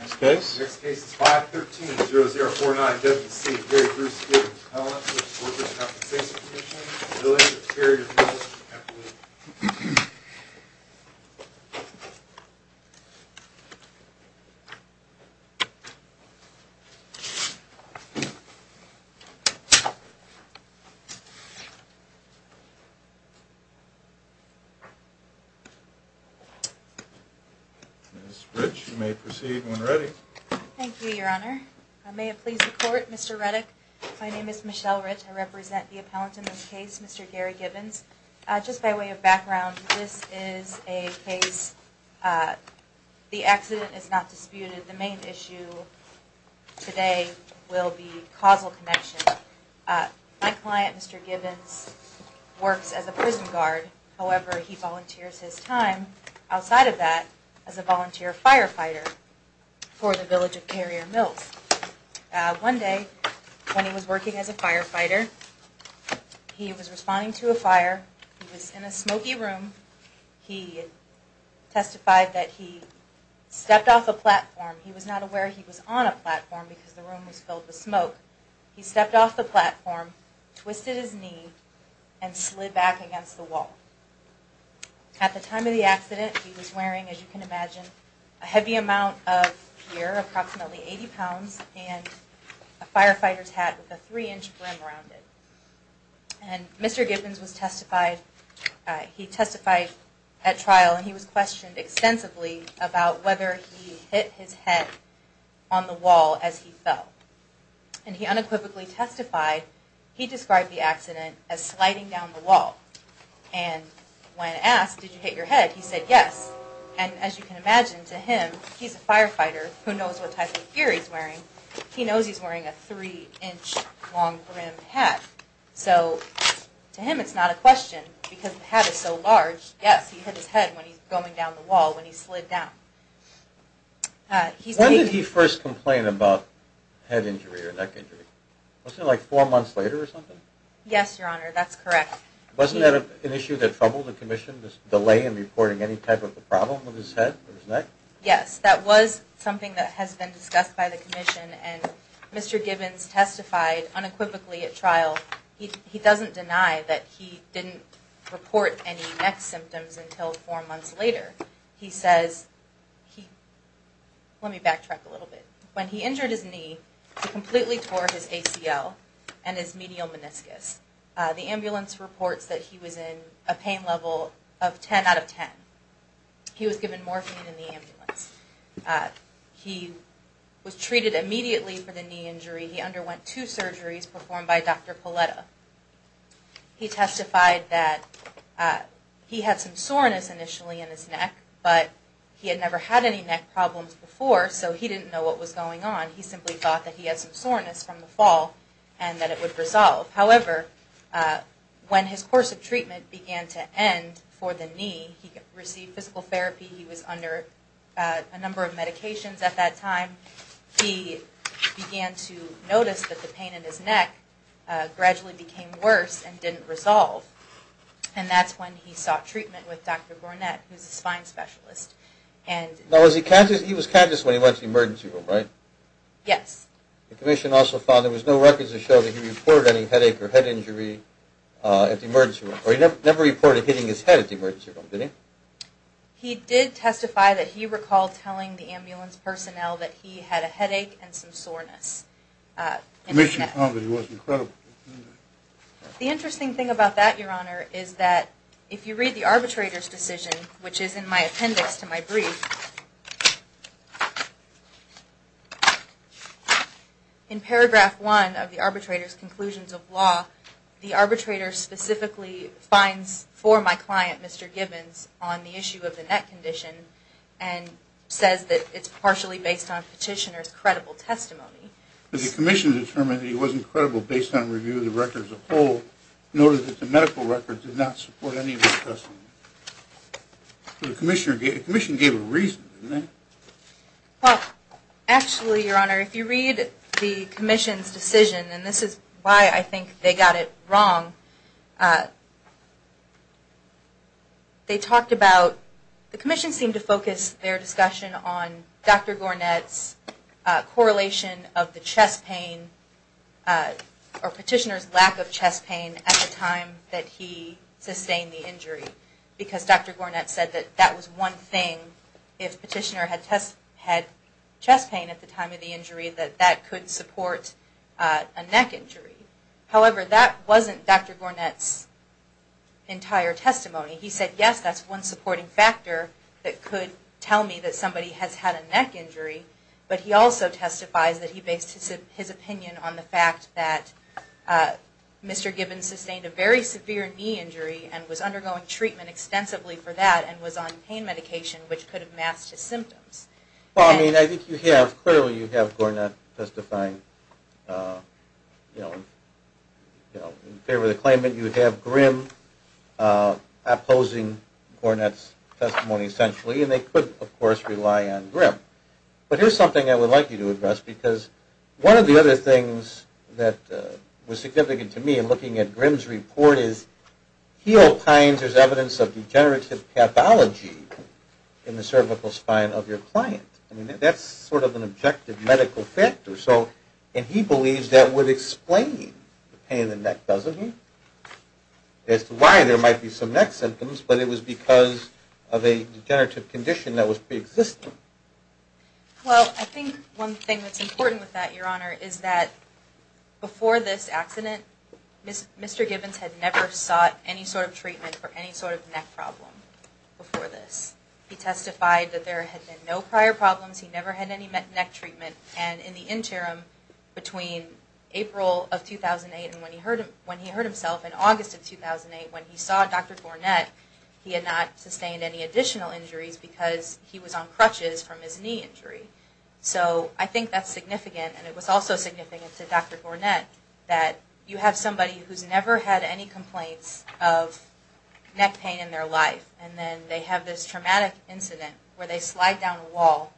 Next case is 513-0049-WC, Gary Bruce v. Pellants v. Workers' Compensation Comm'n, related to the carrier dealership in Bethlehem. Ms. Rich, you may proceed when ready. Thank you, Your Honor. May it please the Court, Mr. Reddick, my name is Michelle Rich, I represent the appellant in this case, Mr. Gary Gibbons. Just by way of background, this is a case, the accident is not disputed. The main issue today will be causal connection. My client, Mr. Gibbons, works as a prison guard, however, he volunteers his time, outside of that, as a volunteer firefighter for the village of Carrier Mills. One day, when he was working as a firefighter, he was responding to a fire. He was in a smoky room. He testified that he stepped off a platform. He was not aware he was on a platform because the room was filled with smoke. He stepped off the platform, twisted his knee, and slid back against the wall. At the time of the accident, he was wearing, as you can imagine, a heavy amount of gear, approximately 80 pounds, and a firefighter's hat with a three-inch brim around it. And Mr. Gibbons was testified, he testified at trial, and he was questioned extensively about whether he hit his head on the wall as he fell. And he unequivocally testified he described the accident as sliding down the wall. And when asked, did you hit your head, he said yes. And as you can imagine, to him, he's a firefighter who knows what type of gear he's wearing. He knows he's wearing a three-inch long brim hat. So to him, it's not a question because the hat is so large. Yes, he hit his head when he's going down the wall, when he slid down. When did he first complain about head injury or neck injury? Wasn't it like four months later or something? Yes, Your Honor, that's correct. Wasn't that an issue that troubled the commission, this delay in reporting any type of a problem with his head or his neck? Yes, that was something that has been discussed by the commission, and Mr. Gibbons testified unequivocally at trial. He doesn't deny that he didn't report any neck symptoms until four months later. He says he, let me backtrack a little bit. When he injured his knee, he completely tore his ACL and his medial meniscus. The ambulance reports that he was in a pain level of 10 out of 10. He was given morphine in the ambulance. He was treated immediately for the knee injury. He underwent two surgeries performed by Dr. Poletta. He testified that he had some soreness initially in his neck, but he had never had any neck problems before, so he didn't know what was going on. He simply thought that he had some soreness from the fall and that it would resolve. However, when his course of treatment began to end for the knee, he received physical therapy. He was under a number of medications at that time. He began to notice that the pain in his neck gradually became worse and didn't resolve, and that's when he sought treatment with Dr. Gornett, who's a spine specialist. Now, he was conscious when he went to the emergency room, right? Yes. The commission also found there was no records to show that he reported any headache or head injury at the emergency room, or he never reported hitting his head at the emergency room, did he? He did testify that he recalled telling the ambulance personnel that he had a headache and some soreness in his neck. The commission found that he wasn't credible. The interesting thing about that, Your Honor, is that if you read the arbitrator's decision, which is in my appendix to my brief, in paragraph one of the arbitrator's conclusions of law, the arbitrator specifically finds for my client, Mr. Gibbons, on the issue of the neck condition and says that it's partially based on petitioner's credible testimony. The commission determined that he wasn't credible based on review of the record as a whole, and noted that the medical record did not support any of his testimony. The commission gave a reason, didn't they? Well, actually, Your Honor, if you read the commission's decision, and this is why I think they got it wrong, they talked about the commission seemed to focus their discussion on Dr. Gornett's correlation of the chest pain or petitioner's lack of chest pain at the time that he sustained the injury. Because Dr. Gornett said that that was one thing, if petitioner had chest pain at the time of the injury, that that could support a neck injury. However, that wasn't Dr. Gornett's entire testimony. He said, yes, that's one supporting factor that could tell me that somebody has had a neck injury, but he also testifies that he based his opinion on the fact that Mr. Gibbons sustained a very severe knee injury and was undergoing treatment extensively for that and was on pain medication, which could have masked his symptoms. Well, I mean, I think you have, clearly you have Gornett testifying in favor of the claimant. You have Grimm opposing Gornett's testimony, essentially, and they could, of course, rely on Grimm. But here's something I would like you to address, because one of the other things that was significant to me in looking at Grimm's report is he opines there's evidence of degenerative pathology in the cervical spine of your client. I mean, that's sort of an objective medical factor, and he believes that would explain the pain in the neck, doesn't he? As to why there might be some neck symptoms, but it was because of a degenerative condition that was preexisting. Well, I think one thing that's important with that, Your Honor, is that before this accident, Mr. Gibbons had never sought any sort of treatment for any sort of neck problem before this. He testified that there had been no prior problems, he never had any neck treatment, and in the interim, between April of 2008 and when he hurt himself in August of 2008, when he saw Dr. Gornett, he had not sustained any additional injuries because he was on crutches from his knee injury. So I think that's significant, and it was also significant to Dr. Gornett that you have somebody who's never had any complaints of neck pain in their life, and then they have this traumatic incident where they slide down a wall.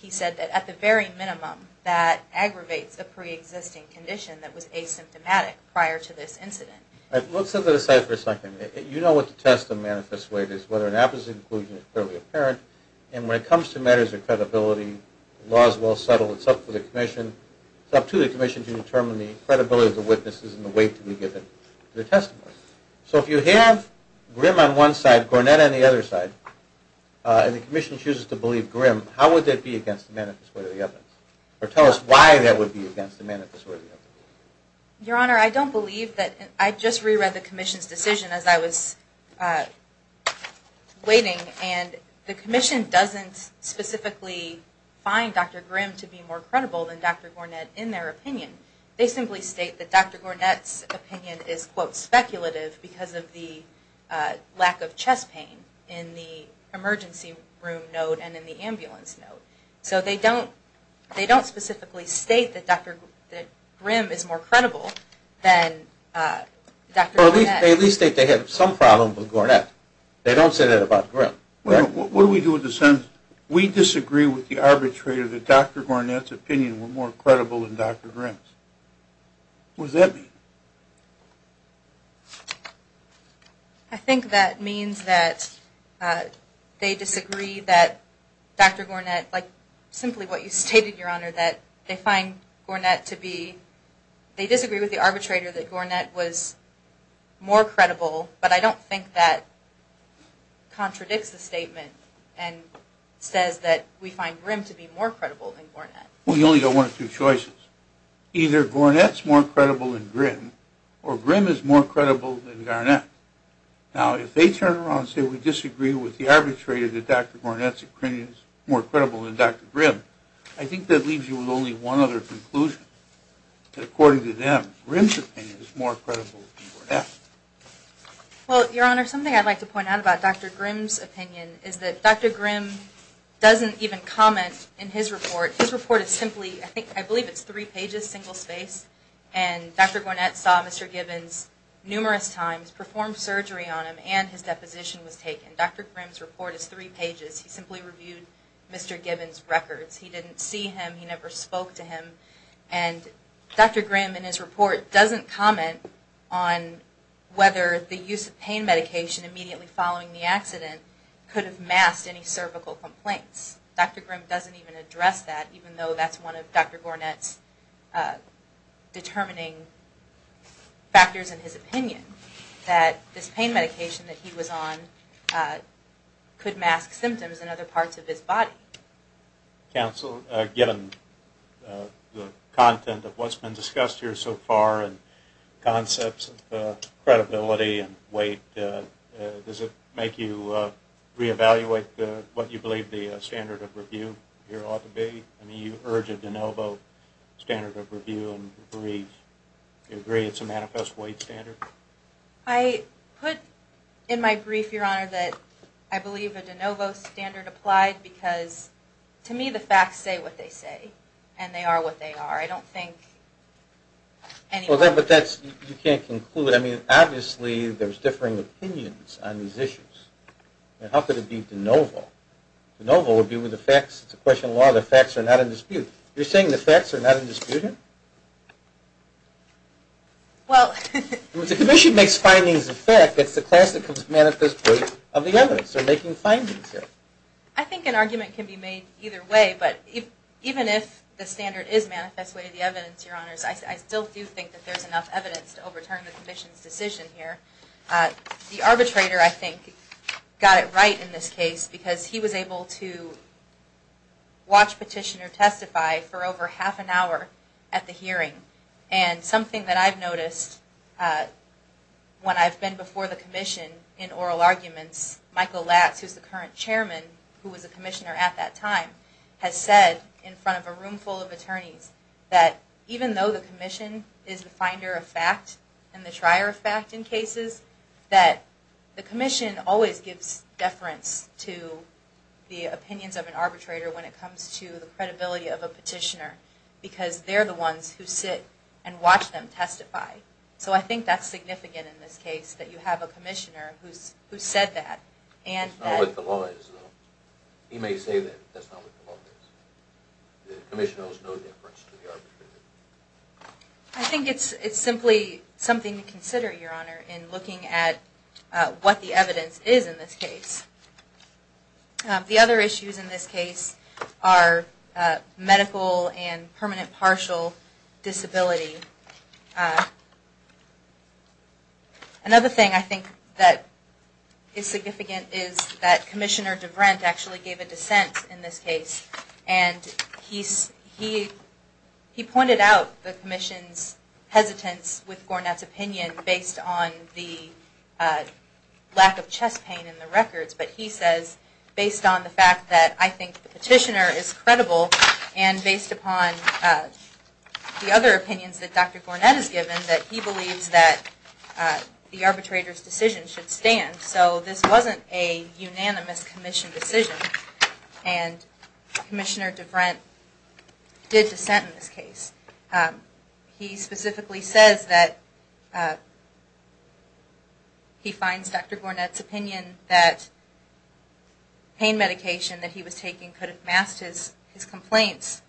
He said that at the very minimum, that aggravates the preexisting condition that was asymptomatic prior to this incident. Let's set that aside for a second. You know what the test of manifest weight is, whether an apposite inclusion is clearly apparent, and when it comes to matters of credibility, the law is well settled. It's up to the commission to determine the credibility of the witnesses and the weight to be given to the testimony. So if you have Grimm on one side, Gornett on the other side, and the commission chooses to believe Grimm, how would that be against the manifest weight of the evidence? Or tell us why that would be against the manifest weight of the evidence. Your Honor, I don't believe that. I just reread the commission's decision as I was waiting, and the commission doesn't specifically find Dr. Grimm to be more credible than Dr. Gornett in their opinion. They simply state that Dr. Gornett's opinion is, quote, speculative because of the lack of chest pain in the emergency room note and in the ambulance note. So they don't specifically state that Grimm is more credible than Dr. Gornett. They at least state they have some problem with Gornett. They don't say that about Grimm. What do we do with the sentence, we disagree with the arbitrator that Dr. Gornett's opinion were more credible than Dr. Grimm's. What does that mean? I think that means that they disagree that Dr. Gornett, like simply what you stated, Your Honor, that they find Gornett to be, they disagree with the arbitrator that Gornett was more credible, but I don't think that contradicts the statement and says that we find Grimm to be more credible than Gornett. Well, you only got one of two choices. Either Gornett's more credible than Grimm, or Grimm is more credible than Gornett. Now, if they turn around and say we disagree with the arbitrator that Dr. Gornett's opinion is more credible than Dr. Grimm, I think that leaves you with only one other conclusion, that according to them, Grimm's opinion is more credible than Gornett's. Well, Your Honor, something I'd like to point out about Dr. Grimm's opinion is that Dr. Grimm doesn't even comment in his report. His report is simply, I believe it's three pages, single-spaced, and Dr. Gornett saw Mr. Gibbons numerous times, performed surgery on him, and his deposition was taken. And Dr. Grimm's report is three pages. He simply reviewed Mr. Gibbons' records. He didn't see him. He never spoke to him. And Dr. Grimm in his report doesn't comment on whether the use of pain medication immediately following the accident could have masked any cervical complaints. Dr. Grimm doesn't even address that, even though that's one of Dr. Gornett's determining factors in his opinion, that this pain medication that he was on could mask symptoms in other parts of his body. Counsel, given the content of what's been discussed here so far and concepts of credibility and weight, does it make you reevaluate what you believe the standard of review here ought to be? I mean, you urge a de novo standard of review, and you agree it's a manifest weight standard? I put in my brief, Your Honor, that I believe a de novo standard applied because to me the facts say what they say, and they are what they are. I don't think any— Well, but that's—you can't conclude. I mean, obviously there's differing opinions on these issues. I mean, how could it be de novo? De novo would be with the facts. It's a question of law. The facts are not in dispute. You're saying the facts are not in dispute? Well— If the commission makes findings of fact, that's the class that comes manifest weight of the evidence. They're making findings here. I think an argument can be made either way, but even if the standard is manifest weight of the evidence, Your Honors, I still do think that there's enough evidence to overturn the commission's decision here. The arbitrator, I think, got it right in this case because he was able to watch petitioner testify for over half an hour at the hearing. And something that I've noticed when I've been before the commission in oral arguments, Michael Latz, who's the current chairman, who was a commissioner at that time, has said in front of a room full of attorneys that even though the commission is the finder of fact and the trier of fact in cases, that the commission always gives deference to the opinions of an arbitrator when it comes to the credibility of a petitioner because they're the ones who sit and watch them testify. So I think that's significant in this case that you have a commissioner who said that. It's not what the law is, though. He may say that, but that's not what the law is. The commission owes no deference to the arbitrator. I think it's simply something to consider, Your Honor, in looking at what the evidence is in this case. The other issues in this case are medical and permanent partial disability. Another thing I think that is significant is that Commissioner DeVrent actually gave a dissent in this case. And he pointed out the commission's hesitance with Gornett's opinion based on the lack of chest pain in the records. But he says, based on the fact that I think the petitioner is credible and based upon the other opinions that Dr. Gornett has given, that he believes that the arbitrator's decision should stand. So this wasn't a unanimous commission decision. And Commissioner DeVrent did dissent in this case. He specifically says that he finds Dr. Gornett's opinion that pain medication that he was taking could have masked his complaints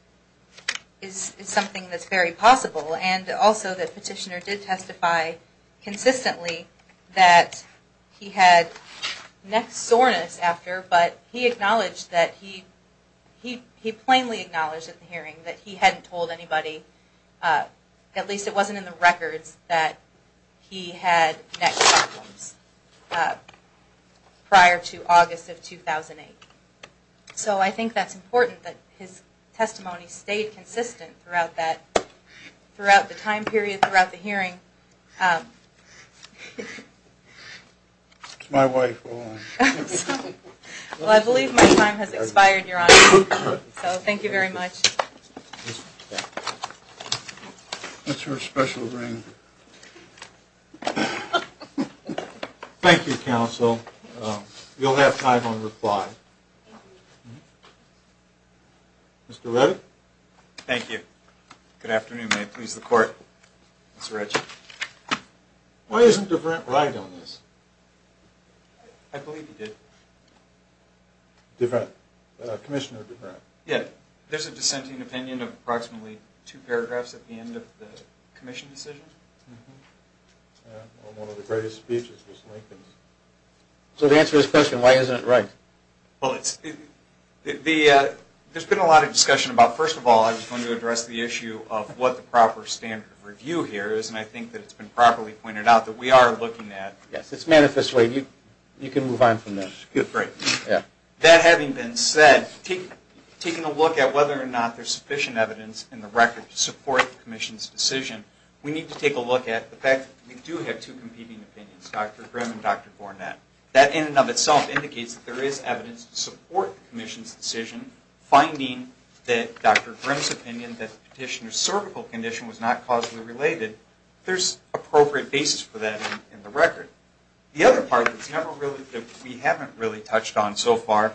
is something that's very possible. And also that petitioner did testify consistently that he had neck soreness after, but he acknowledged that he, he plainly acknowledged at the hearing that he hadn't told anybody, at least it wasn't in the records, that he had neck problems prior to August of 2008. So I think that's important that his testimony stayed consistent throughout that, throughout the time period, throughout the hearing. Okay. It's my wife. Well, I believe my time has expired, Your Honor. So thank you very much. That's her special ring. Thank you, counsel. You'll have time on reply. Mr. Reddick? Thank you. Good afternoon, may it please the Court. Mr. Reddick. Why isn't DeVrent right on this? I believe he did. DeVrent, Commissioner DeVrent. Yeah, there's a dissenting opinion of approximately two paragraphs at the end of the commission decision. On one of the greatest speeches was Lincoln's. So to answer his question, why isn't it right? Well, it's, the, there's been a lot of discussion about, first of all, I was going to address the issue of what the proper standard of review here is, and I think that it's been properly pointed out that we are looking at. Yes, it's manifestly, you can move on from there. Good, great. Yeah. That having been said, taking a look at whether or not there's sufficient evidence in the record to support the commission's decision, we need to take a look at the fact that we do have two competing opinions, Dr. Grimm and Dr. Gornett. That in and of itself indicates that there is evidence to support the commission's decision, and finding that Dr. Grimm's opinion that the petitioner's cervical condition was not causally related, there's appropriate basis for that in the record. The other part that we haven't really touched on so far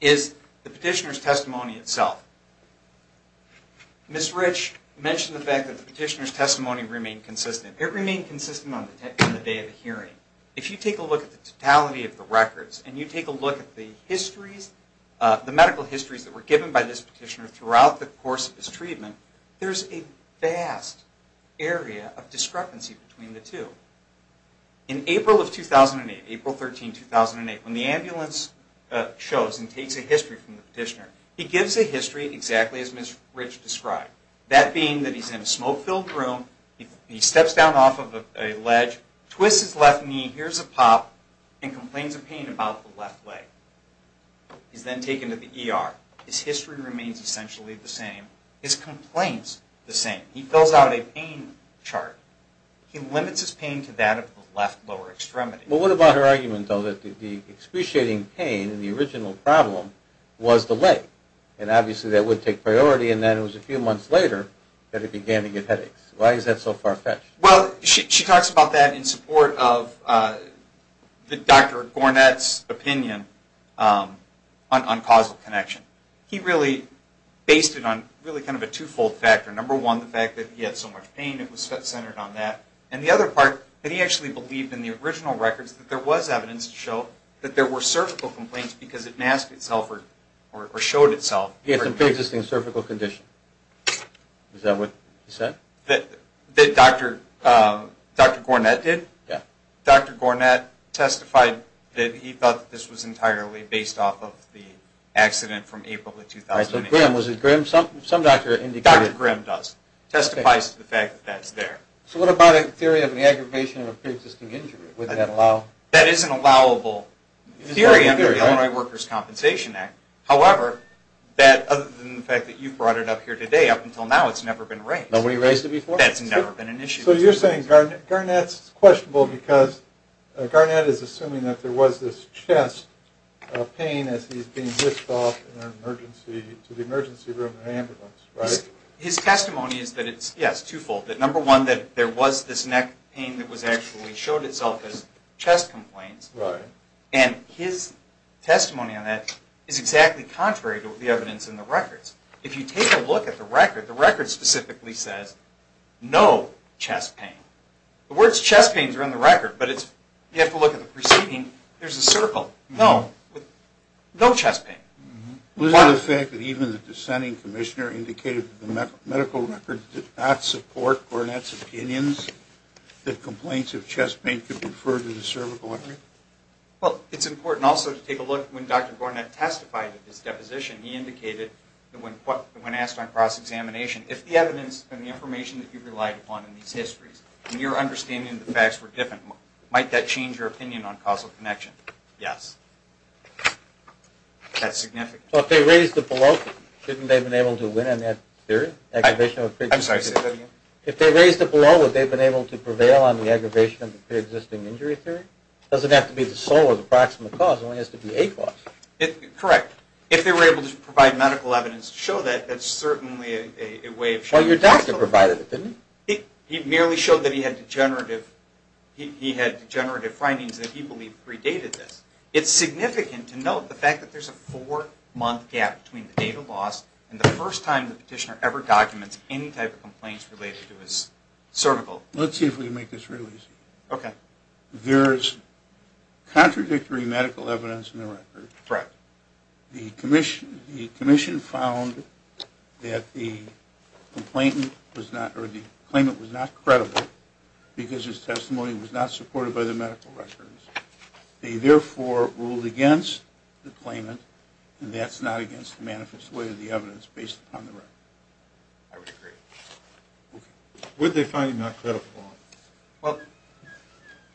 is the petitioner's testimony itself. Ms. Rich mentioned the fact that the petitioner's testimony remained consistent. It remained consistent on the day of the hearing. If you take a look at the totality of the records, and you take a look at the medical histories that were given by this petitioner throughout the course of his treatment, there's a vast area of discrepancy between the two. In April of 2008, April 13, 2008, when the ambulance shows and takes a history from the petitioner, he gives a history exactly as Ms. Rich described, that being that he's in a smoke-filled room, he steps down off of a ledge, twists his left knee, hears a pop, and complains of pain about the left leg. He's then taken to the ER. His history remains essentially the same. His complaints the same. He fills out a pain chart. He limits his pain to that of the left lower extremity. Well, what about her argument, though, that the excruciating pain in the original problem was the leg? And obviously that would take priority, and then it was a few months later that it began to get headaches. Why is that so far-fetched? Well, she talks about that in support of Dr. Gornet's opinion on causal connection. He really based it on really kind of a twofold factor. Number one, the fact that he had so much pain, it was centered on that. And the other part, that he actually believed in the original records that there was evidence to show that there were cervical complaints because it masked itself or showed itself. He had some preexisting cervical condition. Is that what he said? That Dr. Gornet did? Yeah. Dr. Gornet testified that he thought that this was entirely based off of the accident from April of 2008. All right, so Grimm, was it Grimm? Some doctor indicated... Dr. Grimm does. Testifies to the fact that that's there. So what about a theory of an aggravation of a preexisting injury? Would that allow... That is an allowable theory under the Illinois Workers' Compensation Act. However, that other than the fact that you brought it up here today, up until now it's never been raised. Nobody raised it before? That's never been an issue. So you're saying Gornet's questionable because Gornet is assuming that there was this chest pain as he's being whisked off to the emergency room in an ambulance, right? His testimony is that it's, yes, twofold. That number one, that there was this neck pain that actually showed itself as chest complaints. Right. And his testimony on that is exactly contrary to the evidence in the records. If you take a look at the record, the record specifically says, no chest pain. The words chest pain are in the record, but you have to look at the preceding. There's a circle, no, no chest pain. Was it the fact that even the dissenting commissioner indicated that the medical record did not support Gornet's opinions that complaints of chest pain could be referred to the cervical artery? Well, it's important also to take a look when Dr. Gornet testified at this deposition. He indicated that when asked on cross-examination, if the evidence and the information that you relied upon in these histories and your understanding of the facts were different, might that change your opinion on causal connection? Yes. That's significant. So if they raised it below, shouldn't they have been able to win on that theory? I'm sorry, say that again. If they raised it below, would they have been able to prevail on the aggravation of the pre-existing injury theory? It doesn't have to be the sole or the proximate cause. It only has to be a cause. Correct. If they were able to provide medical evidence to show that, that's certainly a way of showing that. Well, your doctor provided it, didn't he? He merely showed that he had degenerative findings that he believed predated this. It's significant to note the fact that there's a four-month gap between the date of loss and the first time the petitioner ever documents any type of complaints related to his cervical. Let's see if we can make this real easy. Okay. There's contradictory medical evidence in the record. Correct. The commission found that the claimant was not credible because his testimony was not supported by the medical records. They, therefore, ruled against the claimant, and that's not against the manifest way of the evidence based upon the record. I would agree. Would they find him not credible? Well,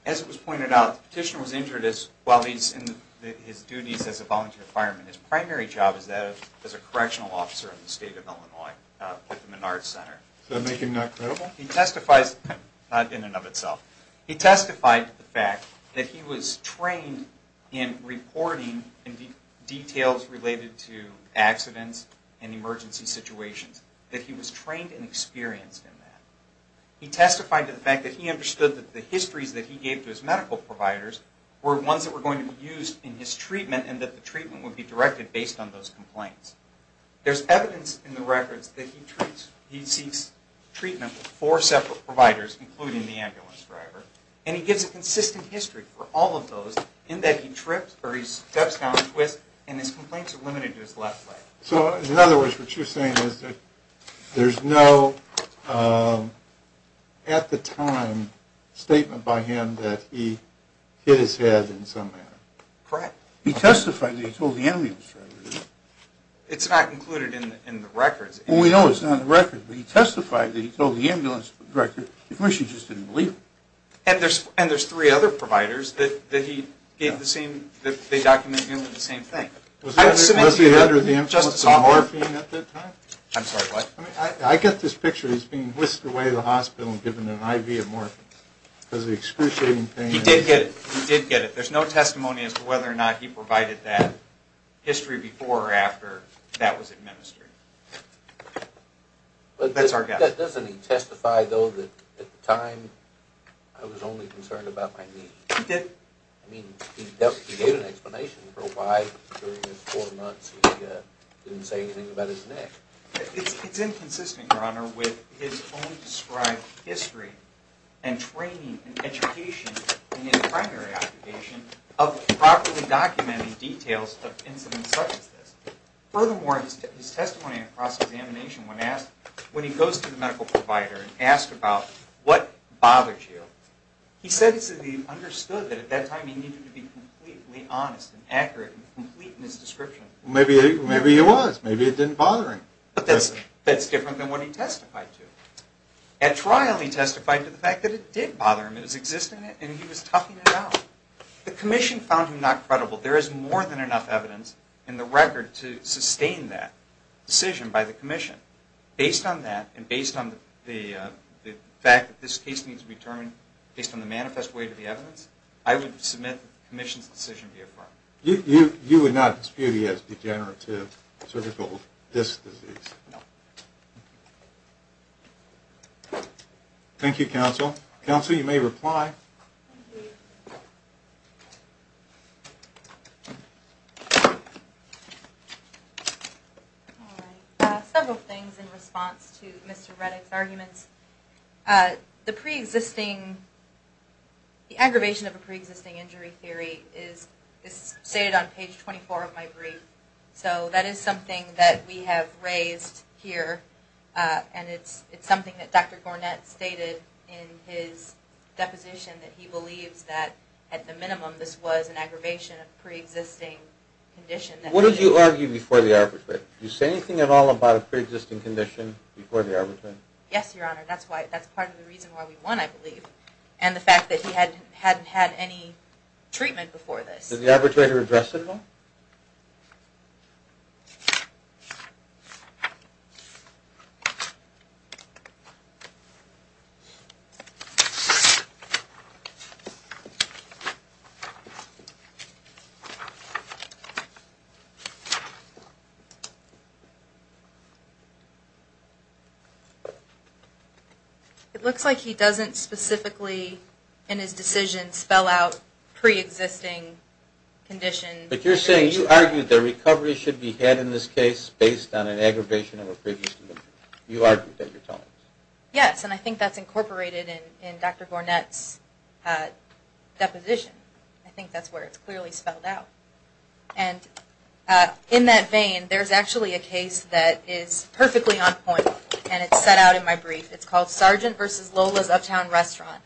as it was pointed out, the petitioner was injured while he's in his duties as a volunteer fireman. His primary job is that of a correctional officer in the state of Illinois at the Menard Center. Does that make him not credible? Not in and of itself. He testified to the fact that he was trained in reporting details related to accidents and emergency situations, that he was trained and experienced in that. He testified to the fact that he understood that the histories that he gave to his medical providers were ones that were going to be used in his treatment and that the treatment would be directed based on those complaints. There's evidence in the records that he seeks treatment with four separate providers, including the ambulance driver. And he gives a consistent history for all of those in that he trips or he steps down a twist and his complaints are limited to his left leg. So, in other words, what you're saying is that there's no, at the time, statement by him that he hit his head in some manner. Correct. He testified that he told the ambulance driver. It's not included in the records. Well, we know it's not in the records, but he testified that he told the ambulance driver. The commission just didn't believe him. And there's three other providers that they document nearly the same thing. Was he under the influence of morphine at that time? I'm sorry, what? I get this picture. He's being whisked away to the hospital and given an IV of morphine because of the excruciating pain. He did get it. He did get it. There's no testimony as to whether or not he provided that history before or after that was administered. That's our guess. Doesn't he testify, though, that at the time, I was only concerned about my knee? He did. I mean, he gave an explanation for why during his four months he didn't say anything about his neck. It's inconsistent, Your Honor, with his own described history and training and education in his primary occupation of properly documenting details of incidents such as this. Furthermore, his testimony in cross-examination, when he goes to the medical provider and asks about what bothered you, he says that he understood that at that time he needed to be completely honest and accurate and complete in his description. Well, maybe he was. Maybe it didn't bother him. But that's different than what he testified to. At trial, he testified to the fact that it did bother him. It was existing, and he was toughing it out. The commission found him not credible. There is more than enough evidence in the record to sustain that decision by the commission. Based on that and based on the fact that this case needs to be determined based on the manifest way to the evidence, I would submit that the commission's decision be affirmed. You would not dispute he has degenerative cervical disc disease? No. Thank you, counsel. Counsel, you may reply. The pre-existing, the aggravation of a pre-existing injury theory is stated on page 24 of my brief. So that is something that we have raised here, and it's something that Dr. Gornett stated in his deposition that he believes that at the minimum this was an aggravation of pre-existing condition. What did you argue before the arbitration? Did you say anything at all about a pre-existing condition before the arbitration? Yes, Your Honor, that's part of the reason why we won, I believe, and the fact that he hadn't had any treatment before this. Did the arbitrator address it at all? No. It looks like he doesn't specifically in his decision spell out pre-existing condition. But you're saying, you argued that recovery should be had in this case based on an aggravation of a pre-existing condition. You argued that at your time. Yes, and I think that's incorporated in Dr. Gornett's deposition. I think that's where it's clearly spelled out. And in that vein, there's actually a case that is perfectly on point, and it's set out in my brief. It's called Sargent v. Lola's Uptown Restaurant.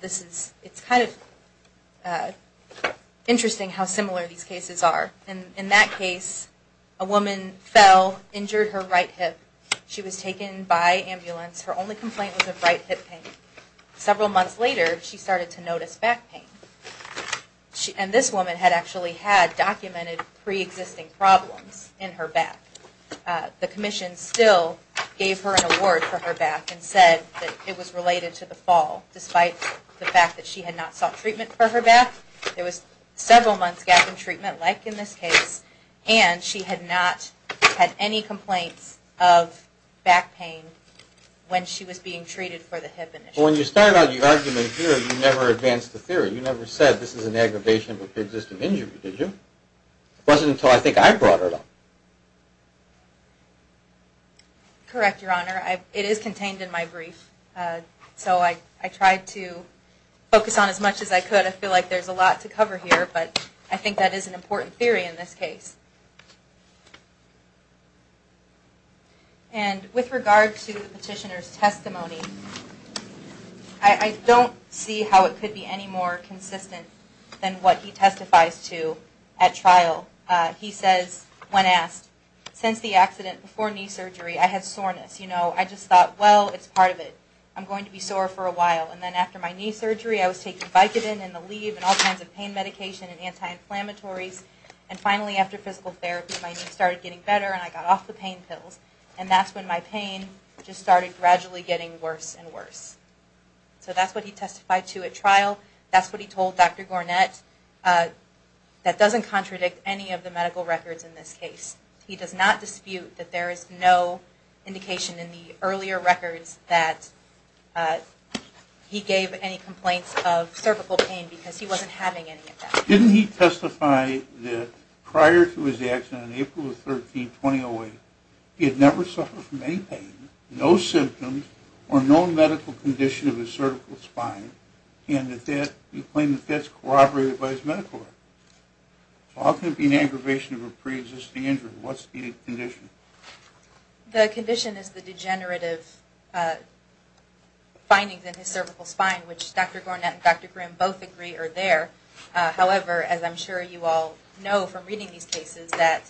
It's kind of interesting how similar these cases are. In that case, a woman fell, injured her right hip. She was taken by ambulance. Her only complaint was of right hip pain. Several months later, she started to notice back pain. And this woman had actually had documented pre-existing problems in her back. The commission still gave her an award for her back and said that it was related to the fall, despite the fact that she had not sought treatment for her back. There was several months gap in treatment, like in this case, and she had not had any complaints of back pain when she was being treated for the hip. When you started out your argument here, you never advanced the theory. You never said this is an aggravation of a pre-existing injury, did you? It wasn't until I think I brought it up. Correct, Your Honor. It is contained in my brief, so I tried to focus on as much as I could. I feel like there's a lot to cover here, but I think that is an important theory in this case. I don't see how it could be any more consistent than what he testifies to at trial. He says, when asked, since the accident, before knee surgery, I had soreness. I just thought, well, it's part of it. I'm going to be sore for a while, and then after my knee surgery, I was taking Vicodin and Aleve and all kinds of pain medication and anti-inflammatories, and finally after physical therapy, my knee started getting better and I got off the pain pills. And that's when my pain just started gradually getting worse and worse. So that's what he testified to at trial. That's what he told Dr. Gornett. That doesn't contradict any of the medical records in this case. He does not dispute that there is no indication in the earlier records that he gave any complaints of cervical pain because he wasn't having any of that. Didn't he testify that prior to his accident on April 13, 2008, he had never suffered from any pain, no symptoms, or no medical condition of his cervical spine, and that you claim that that's corroborated by his medical record? So how can it be an aggravation of a pre-existing injury? What's the condition? The condition is the degenerative findings in his cervical spine, which Dr. Gornett and Dr. Grimm both agree are there. However, as I'm sure you all know from reading these cases, that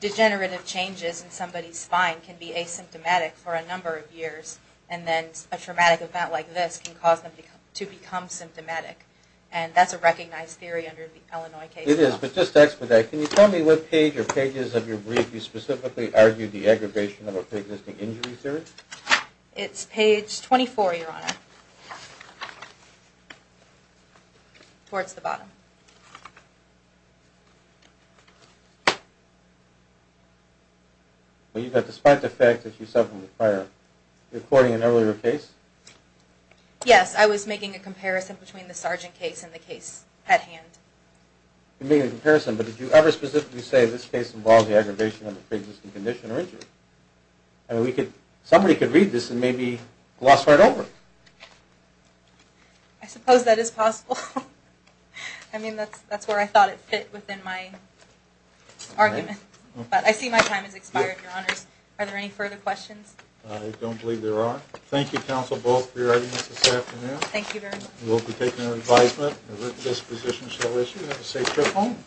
degenerative changes in somebody's spine can be asymptomatic for a number of years, and then a traumatic event like this can cause them to become symptomatic. And that's a recognized theory under the Illinois case law. It is, but just to expedite, can you tell me what page or pages of your brief you specifically argued the aggravation of a pre-existing injury theory? It's page 24, Your Honor, towards the bottom. Well, you've got the spine defect that you said from the prior recording in an earlier case? Yes, I was making a comparison between the Sargent case and the case at hand. You're making a comparison, but did you ever specifically say this case involves the aggravation of a pre-existing condition or injury? I mean, somebody could read this and maybe gloss right over it. I suppose that is possible. I mean, that's where I thought it fit within my argument. But I see my time has expired, Your Honors. Are there any further questions? I don't believe there are. Thank you, counsel, both, for your arguments this afternoon. Thank you very much. We'll be taking your advisement, and this position shall issue. Have a safe trip home.